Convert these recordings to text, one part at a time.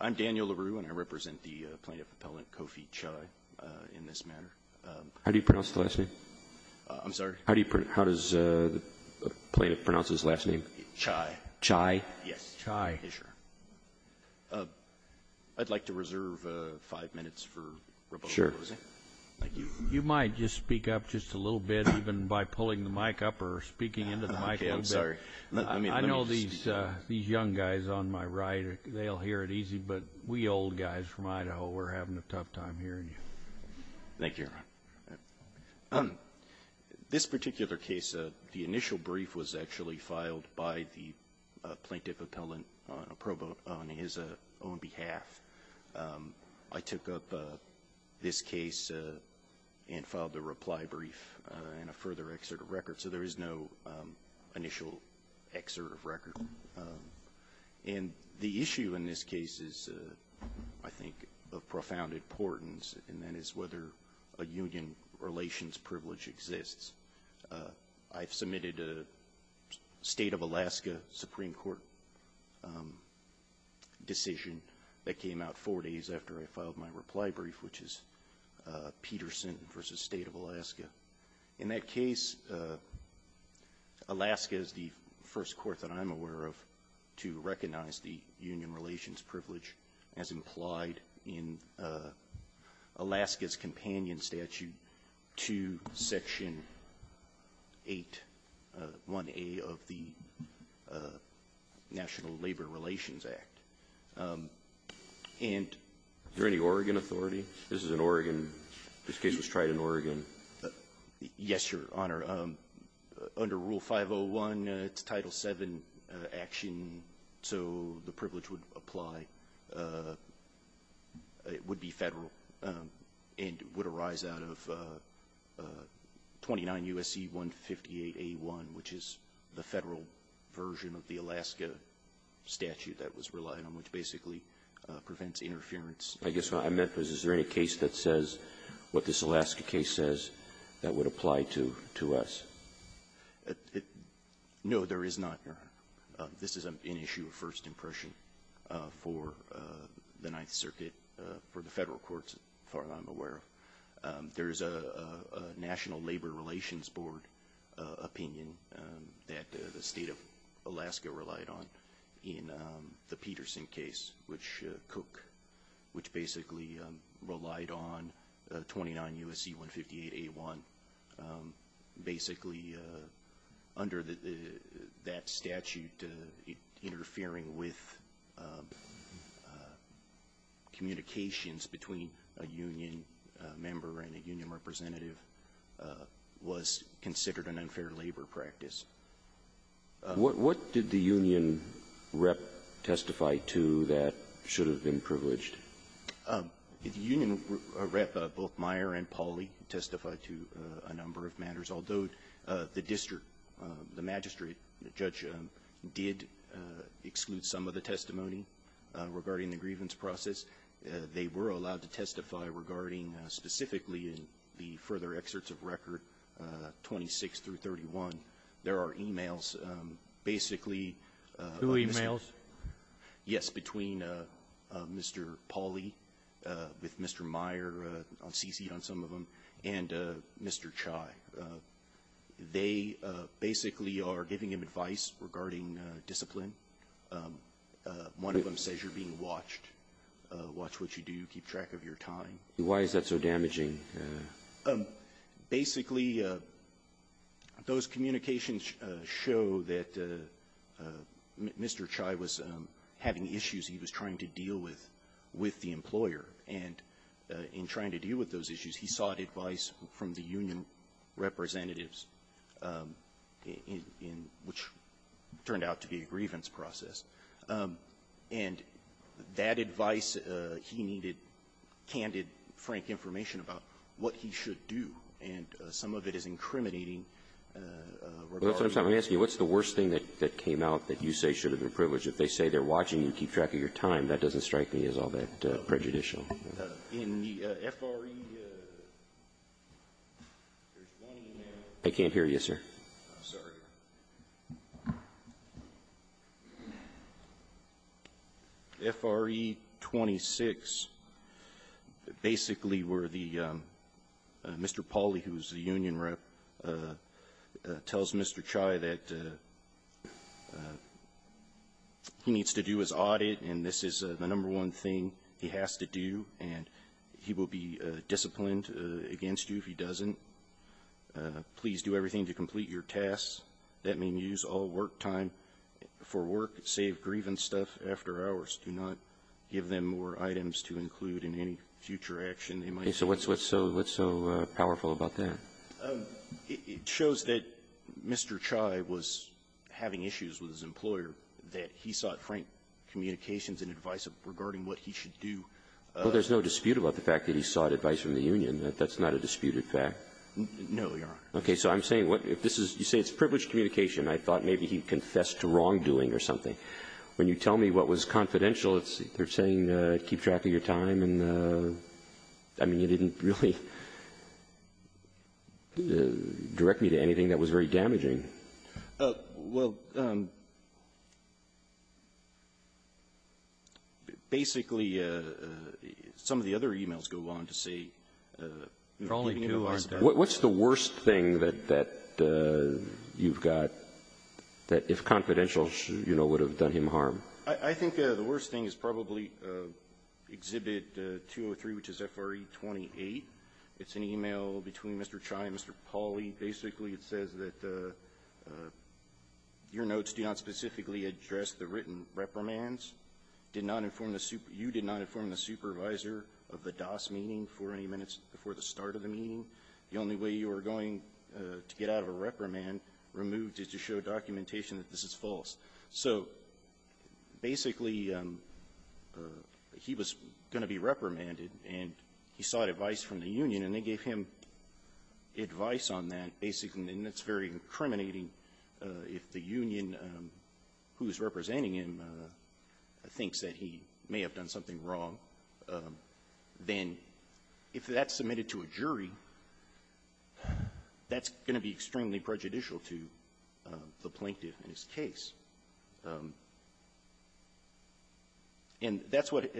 I'm Daniel LaRue and I represent the plaintiff appellant Kofi Kyei in this matter. How do you pronounce the last name? I'm sorry? How does the plaintiff pronounce his last name? Kyei. Kyei? Yes. Kyei. Sure. I'd like to reserve five minutes for rebuttal. Sure. Thank you. You might just speak up just a little bit, even by pulling the mic up or speaking into the mic a little bit. Okay, I'm sorry. I know these young guys on my right, they'll hear it easy, but we old guys from Idaho, we're having a tough time hearing you. Thank you, Your Honor. This particular case, the initial brief was actually filed by the plaintiff appellant on his own behalf. I took up this case and filed a reply brief and a further excerpt of record, so there is no initial excerpt of record. And the issue in this case is, I think, of profound importance, and that is whether a union relations privilege exists. I've submitted a State of Alaska Supreme Court decision that came out four days after I filed my reply brief, which is Peterson v. State of Alaska. In that case, Alaska is the first court that I'm aware of to recognize the union relations privilege as implied in Alaska's companion statute to Section 8, 1A of the National Labor Relations Act. Is there any Oregon authority? This is in Oregon. This case was tried in Oregon. Yes, Your Honor. Under Rule 501, it's Title VII action, so the privilege would apply. It would be Federal and would arise out of 29 U.S.C. 158A1, which is the Federal version of the Alaska statute that was relied on, which basically prevents interference. I guess what I meant was, is there any case that says what this Alaska case says that would apply to us? No, there is not, Your Honor. This is an issue of first impression for the Ninth Circuit, for the Federal courts, as far as I'm aware of. There is a National Labor Relations Board opinion that the State of Alaska relied on in the Peterson case, which basically relied on 29 U.S.C. 158A1. Basically, under that statute, interfering with communications between a union member and a union representative was considered an unfair labor practice. What did the union rep testify to that should have been privileged? The union rep, both Meyer and Pauley, testified to a number of matters. Although the district, the magistrate, the judge, did exclude some of the testimony regarding the grievance process, they were allowed to testify regarding specifically in the further excerpts of Record 26 through 31. There are e-mails. Basically ---- Who e-mails? Yes, between Mr. Pauley, with Mr. Meyer on C-seat on some of them, and Mr. Chai. They basically are giving him advice regarding discipline. One of them says you're being watched. Watch what you do. Keep track of your time. Why is that so damaging? Basically, those communications show that Mr. Chai was having issues he was trying to deal with with the employer. And in trying to deal with those issues, he sought advice from the union representatives, which turned out to be a grievance process. And that advice, he needed candid, frank information about what he should do. And some of it is incriminating regarding ---- Well, that's what I'm trying to ask you. What's the worst thing that came out that you say should have been privileged? If they say they're watching you, keep track of your time, that doesn't strike me as all that prejudicial. In the FRE, there's one e-mail. I can't hear you, sir. I'm sorry. FRE 26, basically, where Mr. Pauly, who's the union rep, tells Mr. Chai that he needs to do his audit, and this is the number one thing he has to do, and he will be disciplined against you if he doesn't. Please do everything to complete your tasks. That means use all work time for work. Save grievance stuff after hours. Do not give them more items to include in any future action. Okay. So what's so powerful about that? It shows that Mr. Chai was having issues with his employer, that he sought frank communications and advice regarding what he should do. Well, there's no dispute about the fact that he sought advice from the union. That's not a disputed fact. No, Your Honor. Okay. So I'm saying what if this is you say it's privileged communication. I thought maybe he confessed to wrongdoing or something. When you tell me what was confidential, they're saying keep track of your time. And, I mean, you didn't really direct me to anything that was very damaging. Well, basically, some of the other e-mails go on to say Mr. Pauly, who was the union What's the worst thing that you've got that, if confidential, would have done him harm? I think the worst thing is probably Exhibit 203, which is F.R.E. 28. It's an e-mail between Mr. Chai and Mr. Pauly. Basically, it says that your notes do not specifically address the written reprimands. You did not inform the supervisor of the DAS meeting for any minutes before the start of the meeting. The only way you are going to get out of a reprimand removed is to show documentation that this is false. So, basically, he was going to be reprimanded, and he sought advice from the union. And they gave him advice on that, basically. And it's very incriminating if the union who is representing him thinks that he may have done something wrong, then if that's submitted to a jury, that's going to be extremely prejudicial to the plaintiff in his case. And that's what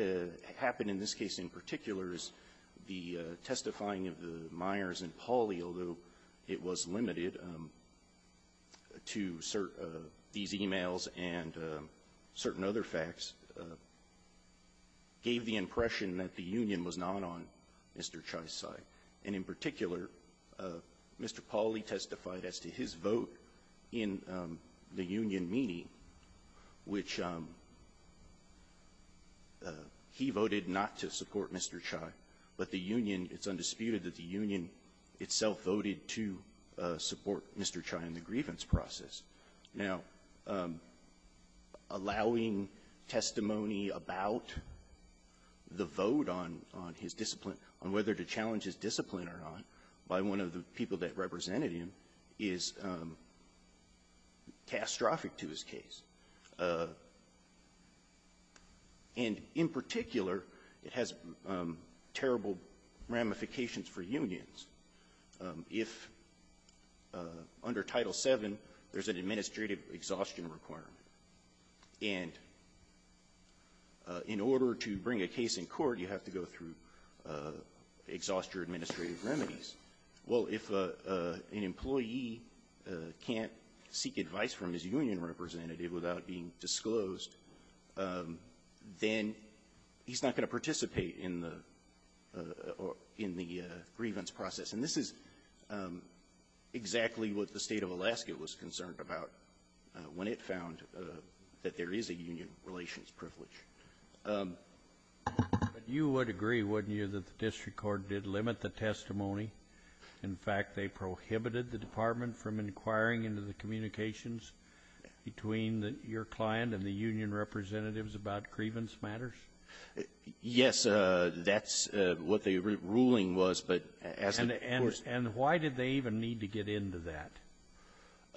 happened in this case in particular, is the testifying of the Meyers and Pauly, although it was limited to these e-mails and certain other facts. It gave the impression that the union was not on Mr. Chai's side. And in particular, Mr. Pauly testified as to his vote in the union meeting, which he voted not to support Mr. Chai, but the union, it's undisputed that the union itself voted to support Mr. Chai in the grievance process. Now, allowing testimony about the vote on his discipline, on whether to challenge his discipline or not, by one of the people that represented him, is catastrophic to his case. And in particular, it has terrible ramifications for unions. If under Title VII, there's an administrative exhaustion requirement, and in order to bring a case in court, you have to go through exhaust your administrative remedies, well, if an employee can't seek advice from his union representative without being disclosed, then he's not going to participate in the grievance process. And this is exactly what the State of Alaska was concerned about when it found that there is a union relations privilege. But you would agree, wouldn't you, that the district court did limit the testimony? In fact, they prohibited the department from inquiring into the communications between your client and the union representatives about grievance matters? Yes. That's what the ruling was. But as the court ---- And why did they even need to get into that?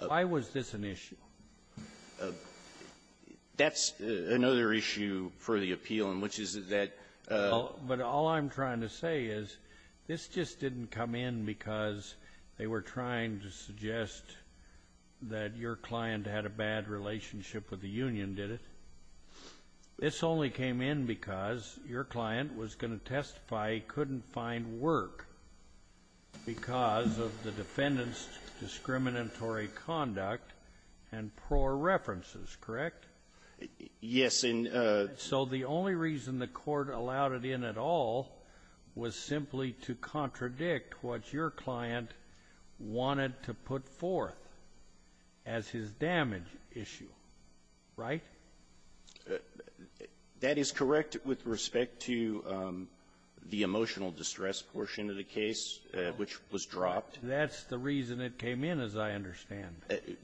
Why was this an issue? That's another issue for the appeal, and which is that ---- But all I'm trying to say is this just didn't come in because they were trying to suggest that your client had a bad relationship with the union, did it? This only came in because your client was going to testify he couldn't find work because of the defendant's discriminatory conduct and poor references, correct? Yes, and ---- So the only reason the court allowed it in at all was simply to contradict what your client wanted to put forth as his damage issue, right? That is correct with respect to the emotional distress portion of the case, which was dropped. That's the reason it came in, as I understand.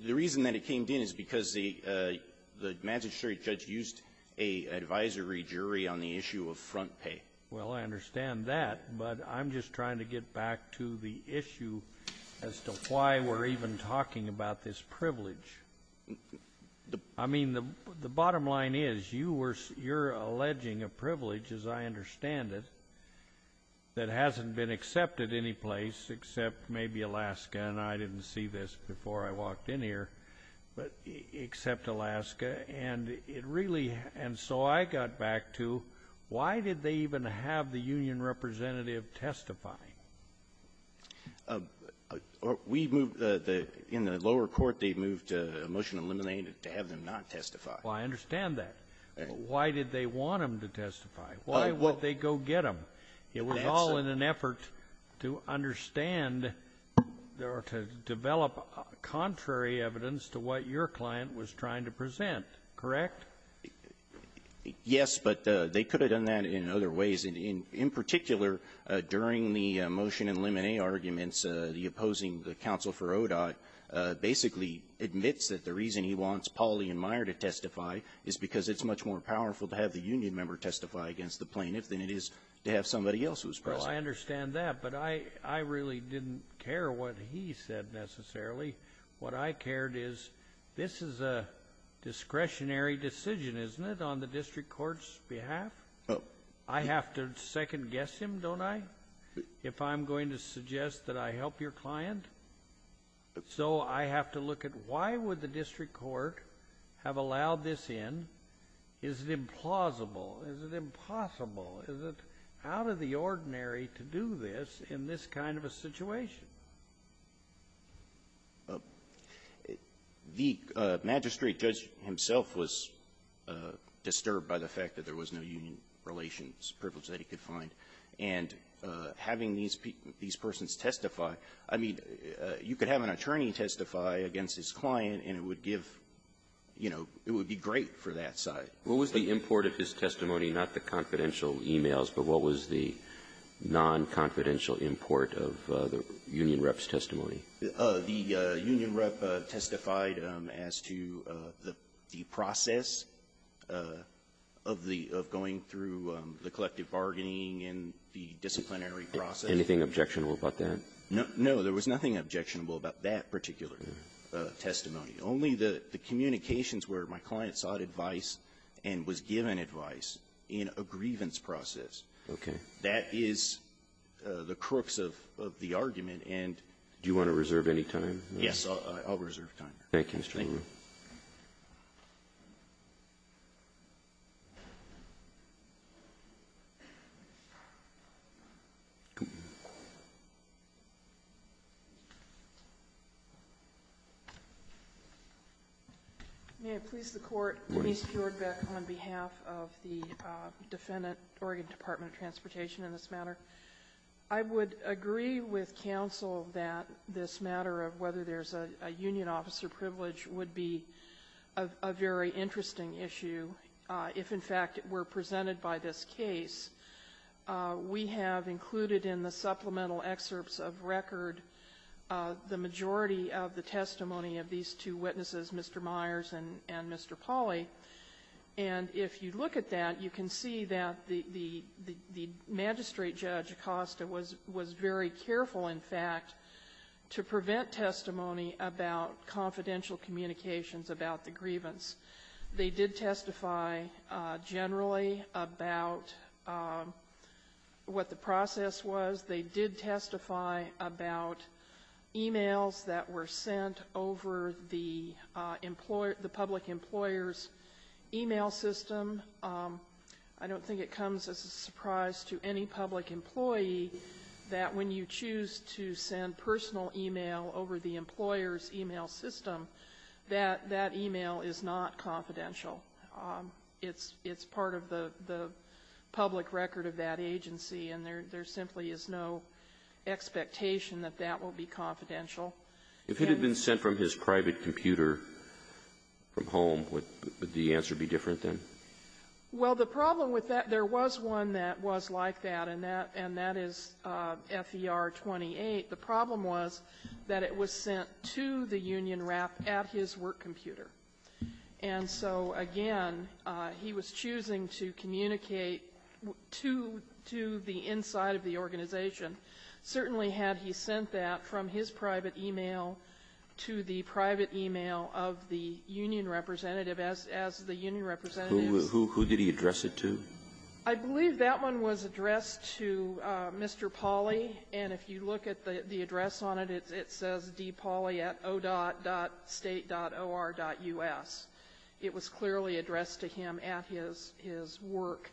The reason that it came in is because the ---- the magistrate judge used an advisory jury on the issue of front pay. Well, I understand that, but I'm just trying to get back to the issue as to why we're even talking about this privilege. I mean, the bottom line is you were ---- you're alleging a privilege, as I understand it, that hasn't been accepted any place except maybe Alaska, and I didn't see this before I walked in here, but except Alaska, and it really ---- Well, I understand that. Why did they want him to testify? Why would they go get him? It was all in an effort to understand or to develop contrary evidence to what your client was trying to present, correct? Yes, but they could have done that in other ways as well. In particular, during the motion in Lemonet arguments, the opposing counsel for ODOT basically admits that the reason he wants Pauli and Meyer to testify is because it's much more powerful to have the union member testify against the plaintiff than it is to have somebody else who's present. Well, I understand that, but I really didn't care what he said, necessarily. What I cared is this is a discretionary decision, isn't it, on the district court's behalf? I have to second-guess him, don't I, if I'm going to suggest that I help your client? So I have to look at why would the district court have allowed this in? Is it implausible? Is it impossible? The magistrate judge himself was disturbed by the fact that there was no union relations privilege that he could find. And having these persons testify, I mean, you could have an attorney testify against his client, and it would give, you know, it would be great for that side. What was the import of his testimony, not the confidential e-mails, but what was the non-confidential import of the union rep's testimony? The union rep testified as to the process of the going through the collective bargaining and the disciplinary process. Anything objectionable about that? No. There was nothing objectionable about that particular testimony. Only the communications where my client sought advice and was given advice in a grievance process. Okay. That is the crux of the argument, and do you want to reserve any time? Yes. I'll reserve time. Thank you, Mr. Long. Thank you. May I please the Court? Ms. Bjordbeck, on behalf of the defendant, Oregon Department of Transportation in this matter. I would agree with counsel that this matter of whether there is a union officer privilege would be a very interesting issue if, in fact, were presented by this case. We have included in the supplemental excerpts of record the majority of the testimony of these two witnesses, Mr. Myers and Mr. Pauly. And if you look at that, you can see that the magistrate judge, Acosta, was very careful, in fact, to prevent testimony about confidential communications about the grievance. They did testify generally about what the process was. They did testify about e-mails that were sent over the public employer's e-mail system. I don't think it comes as a surprise to any public employee that when you choose to send personal e-mail over the employer's e-mail system, that that e-mail is not confidential. It's part of the public record of that agency, and there simply is no expectation that that will be confidential. If it had been sent from his private computer from home, would the answer be different, then? Well, the problem with that, there was one that was like that, and that is FER-28. The problem was that it was sent to the union rep at his work computer. And so, again, he was choosing to communicate to the inside of the organization. Certainly, had he sent that from his private e-mail to the private e-mail of the union representative, as the union representative's ---- Who did he address it to? I believe that one was addressed to Mr. Pauly, and if you look at the address on it, it says dpauly at o.state.or.us. It was clearly addressed to him at his work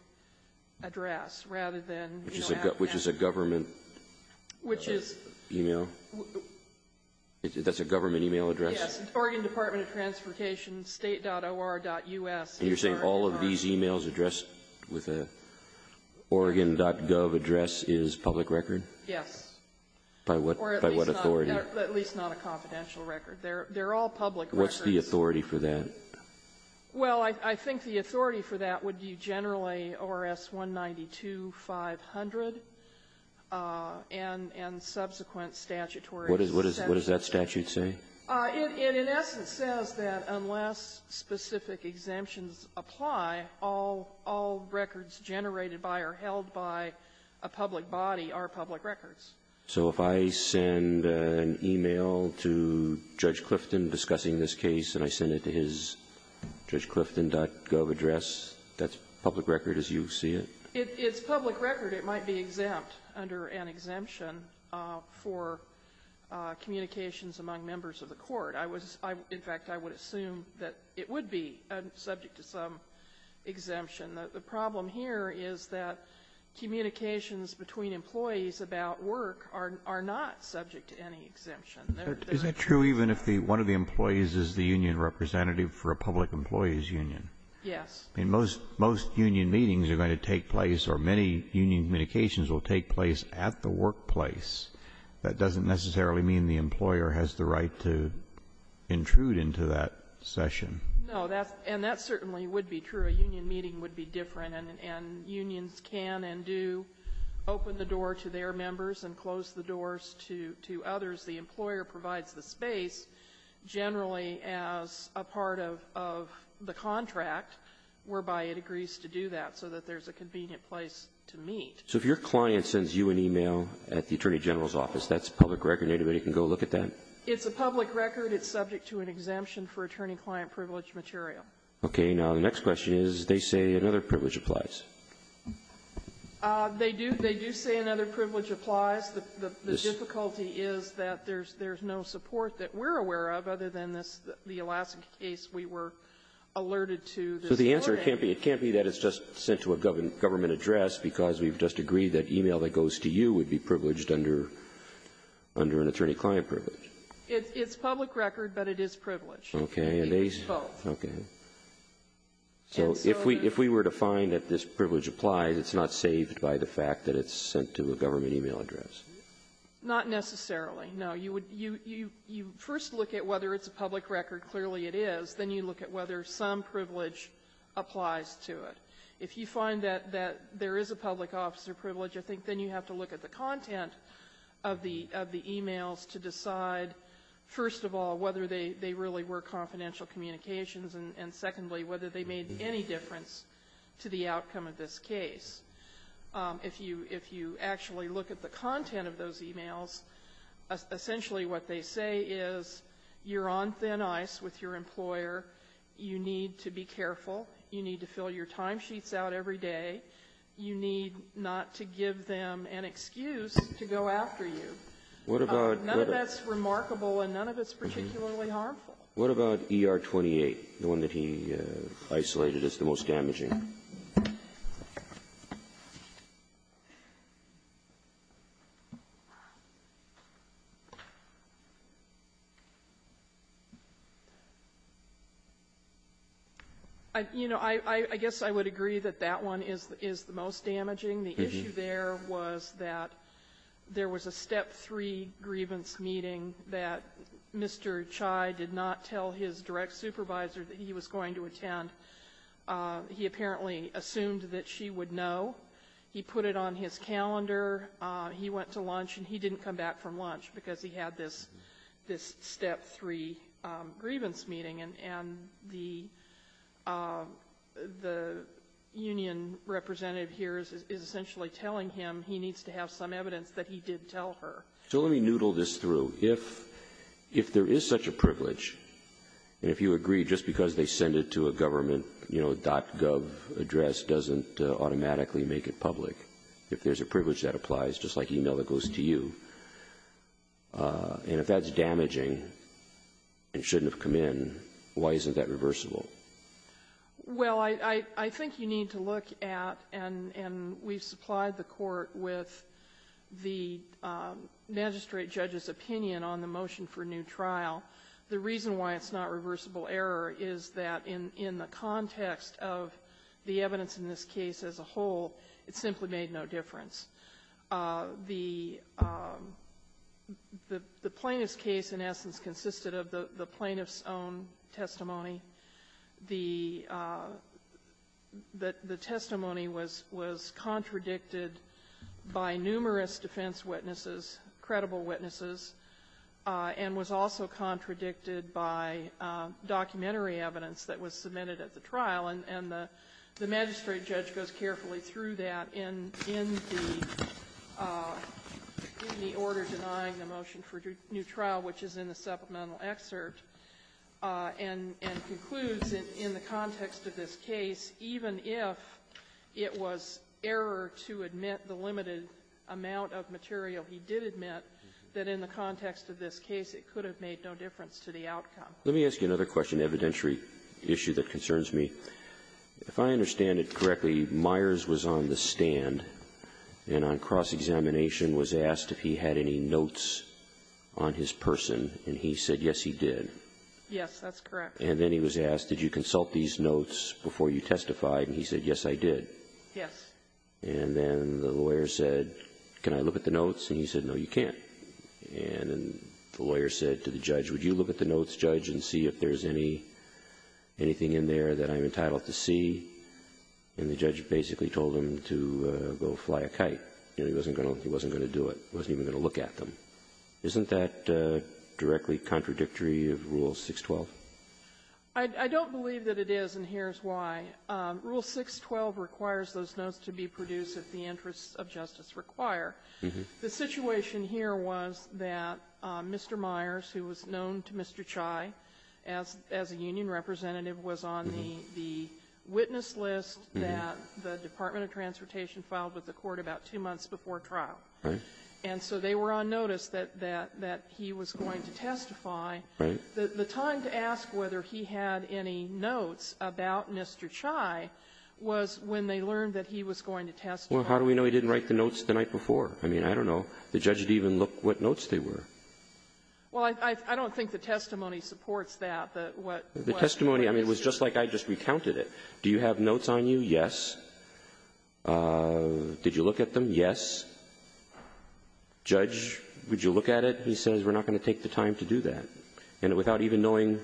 address, rather than ---- Which is a government e-mail? That's a government e-mail address? Yes, Oregon Department of Transportation, state.or.us. And you're saying all of these e-mails addressed with an Oregon.gov address is public record? Yes. By what authority? Or at least not a confidential record. They're all public records. What's the authority for that? Well, I think the authority for that would be generally ORS-192-500 and subsequent statutory exemptions. What does that statute say? It, in essence, says that unless specific exemptions apply, all records generated by or held by a public body are public records. So if I send an e-mail to Judge Clifton discussing this case and I send it to his judgeclifton.gov address, that's public record as you see it? It's public record. It might be exempt under an exemption for communications among members of the Court. I was ---- in fact, I would assume that it would be subject to some exemption. The problem here is that communications between employees about work are not subject to any exemption. Is that true even if one of the employees is the union representative for a public employees union? Yes. I mean, most union meetings are going to take place, or many union communications will take place at the workplace. That doesn't necessarily mean the employer has the right to intrude into that session. No. And that certainly would be true. A union meeting would be different, and unions can and do open the door to their members and close the doors to others. The employer provides the space generally as a part of the contract whereby it agrees to do that so that there's a convenient place to meet. So if your client sends you an e-mail at the Attorney General's office, that's public record. Anybody can go look at that? It's a public record. It's subject to an exemption for attorney-client privileged material. Okay. Now, the next question is, they say another privilege applies. They do. They do say another privilege applies. The difficulty is that there's no support that we're aware of other than this, the Alaskan case we were alerted to. So the answer can't be that it's just sent to a government address because we've just agreed that e-mail that goes to you would be privileged under an attorney-client privilege. It's public record, but it is privileged. Okay. It's both. Okay. So if we were to find that this privilege applies, it's not saved by the fact that it's sent to a government e-mail address? Not necessarily. No. You would you first look at whether it's a public record. Clearly it is. Then you look at whether some privilege applies to it. If you find that there is a public officer privilege, I think then you have to look at the content of the e-mails to decide, first of all, whether they really were confidential communications, and secondly, whether they made any difference to the outcome of this case. If you actually look at the content of those e-mails, essentially what they say is, you're on thin ice with your employer, you need to be careful, you need to fill your timesheets out every day, you need not to give them an excuse to go after you. None of that's remarkable, and none of it's particularly harmful. What about ER-28, the one that he isolated as the most damaging? You know, I guess I would agree that that one is the most damaging. The issue there was that there was a step three grievance meeting that Mr. Chai did not tell his direct supervisor that he was going to attend. He apparently assumed that she would know. He put it on his calendar. He went to lunch, and he didn't come back from lunch because he had this step three grievance meeting. And the union representative here is essentially telling him he needs to have some evidence that he did tell her. So let me noodle this through. If there is such a privilege, and if you agree just because they send it to a government, you know, .gov address doesn't automatically make it public, if there's a privilege that applies, just like e-mail that goes to you, and if that's damaging and shouldn't have come in, why isn't that reversible? Well, I think you need to look at, and we've supplied the Court with the magistrate judge's opinion on the motion for new trial. The reason why it's not reversible error is that in the context of the evidence in this case as a whole, it simply made no difference. The plaintiff's case, in essence, consisted of the plaintiff's own testimony. The testimony was contradicted by numerous defense witnesses, credible witnesses, and was also contradicted by documentary evidence that was submitted at the trial. And the magistrate judge goes carefully through that in the order denying the motion for new trial, which is in the supplemental excerpt, and concludes in the context of this case, even if it was error to admit the limited amount of material, he did admit that in the context of this case, it could have made no difference to the outcome. Let me ask you another question, evidentiary issue that concerns me. If I understand it correctly, Myers was on the stand, and on cross-examination was asked if he had any notes on his person, and he said, yes, he did. Yes, that's correct. And then he was asked, did you consult these notes before you testified? And he said, yes, I did. Yes. And then the lawyer said, can I look at the notes? And he said, no, you can't. And then the lawyer said to the judge, would you look at the notes, judge, and see if there's anything in there that I'm entitled to see? And the judge basically told him to go fly a kite. He wasn't going to do it. He wasn't even going to look at them. Isn't that directly contradictory of Rule 612? I don't believe that it is, and here's why. Rule 612 requires those notes to be produced if the interests of justice require. The situation here was that Mr. Myers, who was known to Mr. Chai as a union representative, was on the witness list that the Department of Transportation filed with the court about two months before trial. And so they were on notice that he was going to testify. The time to ask whether he had any notes about Mr. Chai was when they learned that he was going to testify. Well, how do we know he didn't write the notes the night before? I mean, I don't know. The judge didn't even look what notes they were. Well, I don't think the testimony supports that, that what the witness did. The testimony, I mean, it was just like I just recounted it. Do you have notes on you? Yes. Did you look at them? Yes. Judge, would you look at it? He says, we're not going to take the time to do that. And without even knowing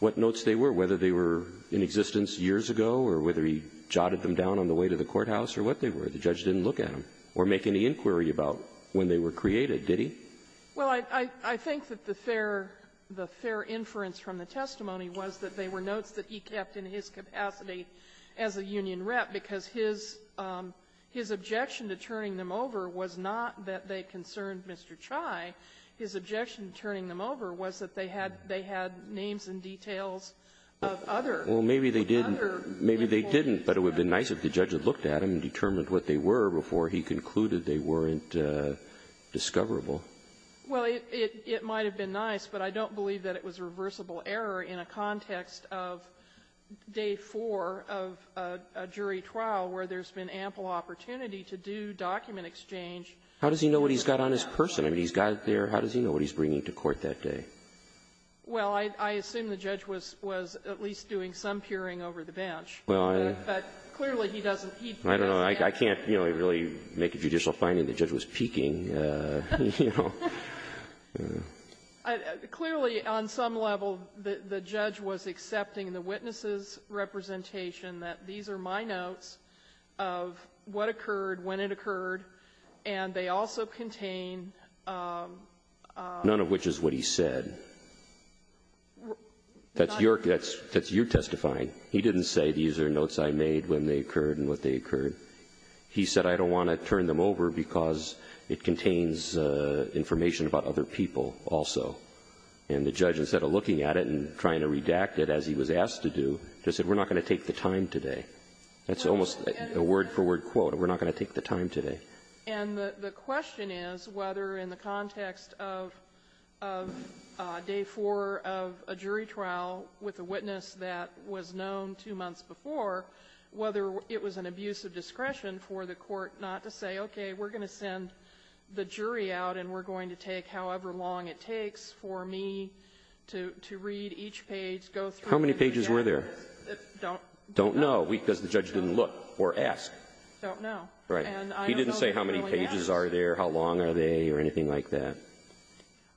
what notes they were, whether they were in existence years ago or whether he jotted them down on the way to the courthouse or what they were, the judge didn't look at them or make any inquiry about when they were created, did he? Well, I think that the fair inference from the testimony was that they were notes that he kept in his capacity as a union rep, because his objection to turning them over was not that they concerned Mr. Chai. His objection to turning them over was that they had names and details of other people. Well, maybe they didn't. Maybe they didn't, but it would have been nice if the judge had looked at them and determined what they were before he concluded they weren't discoverable. Well, it might have been nice, but I don't believe that it was reversible error in a context of day four of a jury trial where there's been ample opportunity to do document exchange. How does he know what he's got on his person? I mean, he's got it there. How does he know what he's bringing to court that day? Well, I assume the judge was at least doing some peering over the bench. But clearly, he doesn't. I don't know. I can't, you know, really make a judicial finding that the judge was peeking. Clearly, on some level, the judge was accepting the witness's representation that these are my notes of what occurred, when it occurred, and they also contain None of which is what he said. That's your testifying. He didn't say these are notes I made when they occurred and what they occurred. He said I don't want to turn them over because it contains information about other people also. And the judge, instead of looking at it and trying to redact it as he was asked to do, just said we're not going to take the time today. That's almost a word-for-word quote. We're not going to take the time today. And the question is whether, in the context of day four of a jury trial with a witness that was known two months before, whether it was an abuse of discretion for the court not to say, okay, we're going to send the jury out and we're going to take however long it takes for me to read each page, go through How many pages were there? I don't know. Because the judge didn't look or ask. I don't know. He didn't say how many pages are there, how long are they, or anything like that.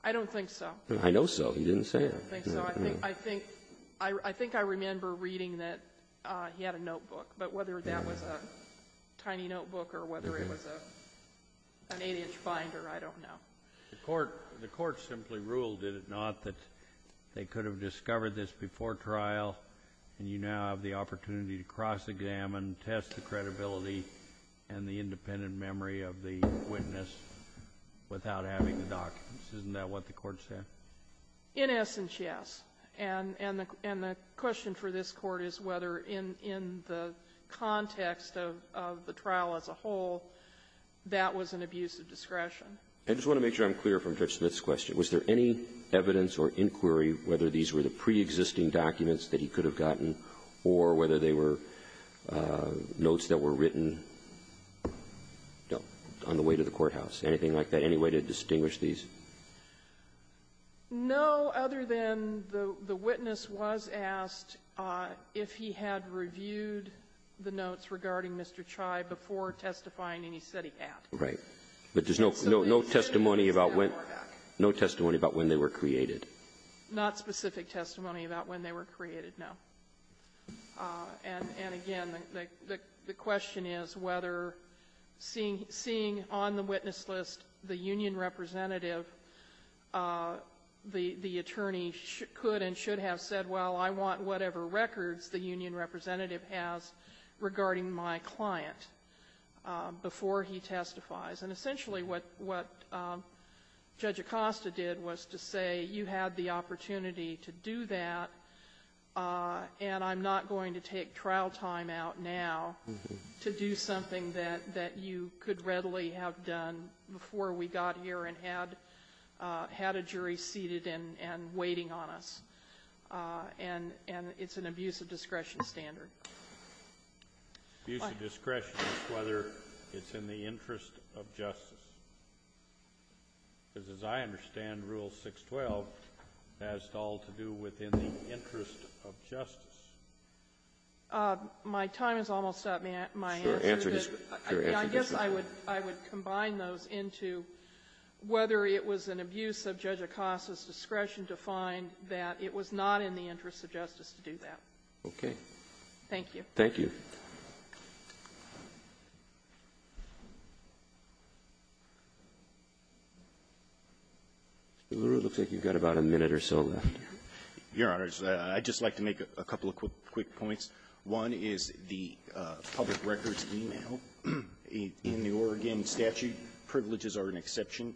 I don't think so. I know so. He didn't say that. I think so. I think I remember reading that he had a notebook, but whether that was a tiny notebook or whether it was an 8-inch binder, I don't know. The court simply ruled, did it not, that they could have discovered this before trial and you now have the opportunity to cross-examine, test the credibility and the independent memory of the witness without having the documents. Isn't that what the court said? In essence, yes. And the question for this Court is whether in the context of the trial as a whole, that was an abuse of discretion. I just want to make sure I'm clear from Judge Smith's question. Was there any evidence or inquiry whether these were the preexisting documents that he could have gotten or whether they were notes that were written on the way to the courthouse, anything like that, any way to distinguish these? No, other than the witness was asked if he had reviewed the notes regarding Mr. Chai before testifying, and he said he had. Right. But there's no testimony about when they were created. Not specific testimony about when they were created, no. And again, the question is whether seeing on the witness list the union representative, the attorney could and should have said, well, I want whatever records the union representative has regarding my client before he testifies. And essentially what Judge Acosta did was to say you had the opportunity to do that, and I'm not going to take trial time out now to do something that you could readily have done before we got here and had a jury seated and waiting on us. And it's an abuse of discretion standard. Abuse of discretion is whether it's in the interest of justice. Because as I understand, Rule 612 has all to do with in the interest of justice. My time is almost up, may I answer? I guess I would combine those into whether it was an abuse of Judge Acosta's discretion to find that it was not in the interest of justice to do that. Okay. Thank you. Thank you. Mr. LaRue, it looks like you've got about a minute or so left. Your Honors, I'd just like to make a couple of quick points. One is the public records email in the Oregon statute. Privileges are an exception.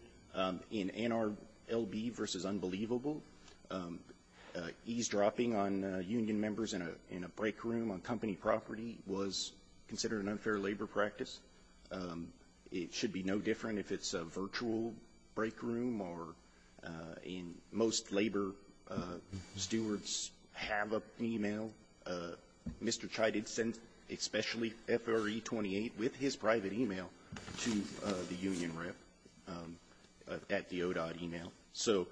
In NRLB v. Unbelievable, eavesdropping on union members in a break room on company property was considered an unfair labor practice. It should be no different if it's a virtual break room or in most labor stewards have an email. Mr. Chai did send especially FRE28 with his private email to the union rep. at the ODOT email. So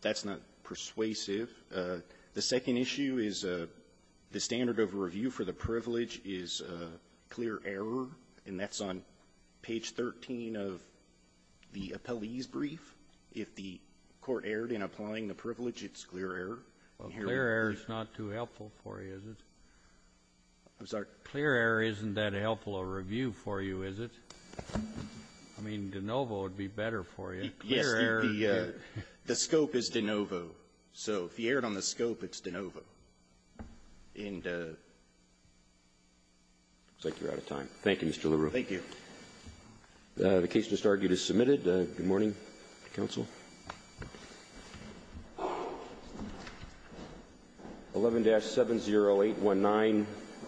that's not persuasive. The second issue is the standard of review for the privilege is clear error, and that's on page 13 of the appellee's brief. If the court erred in applying the privilege, it's clear error. Well, clear error is not too helpful for you, is it? I'm sorry? Clear error isn't that helpful of a review for you, is it? I mean, de novo would be better for you. Yes. The scope is de novo. So if you erred on the scope, it's de novo. And it looks like you're out of time. Thank you, Mr. LaRue. Thank you. The case just argued is submitted. Good morning, counsel. 11-70819,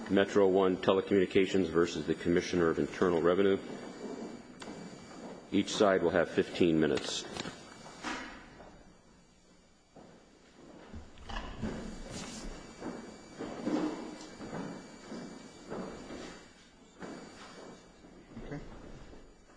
Metro One Telecommunications v. the Commissioner of Internal Revenue. Each side will have 15 minutes.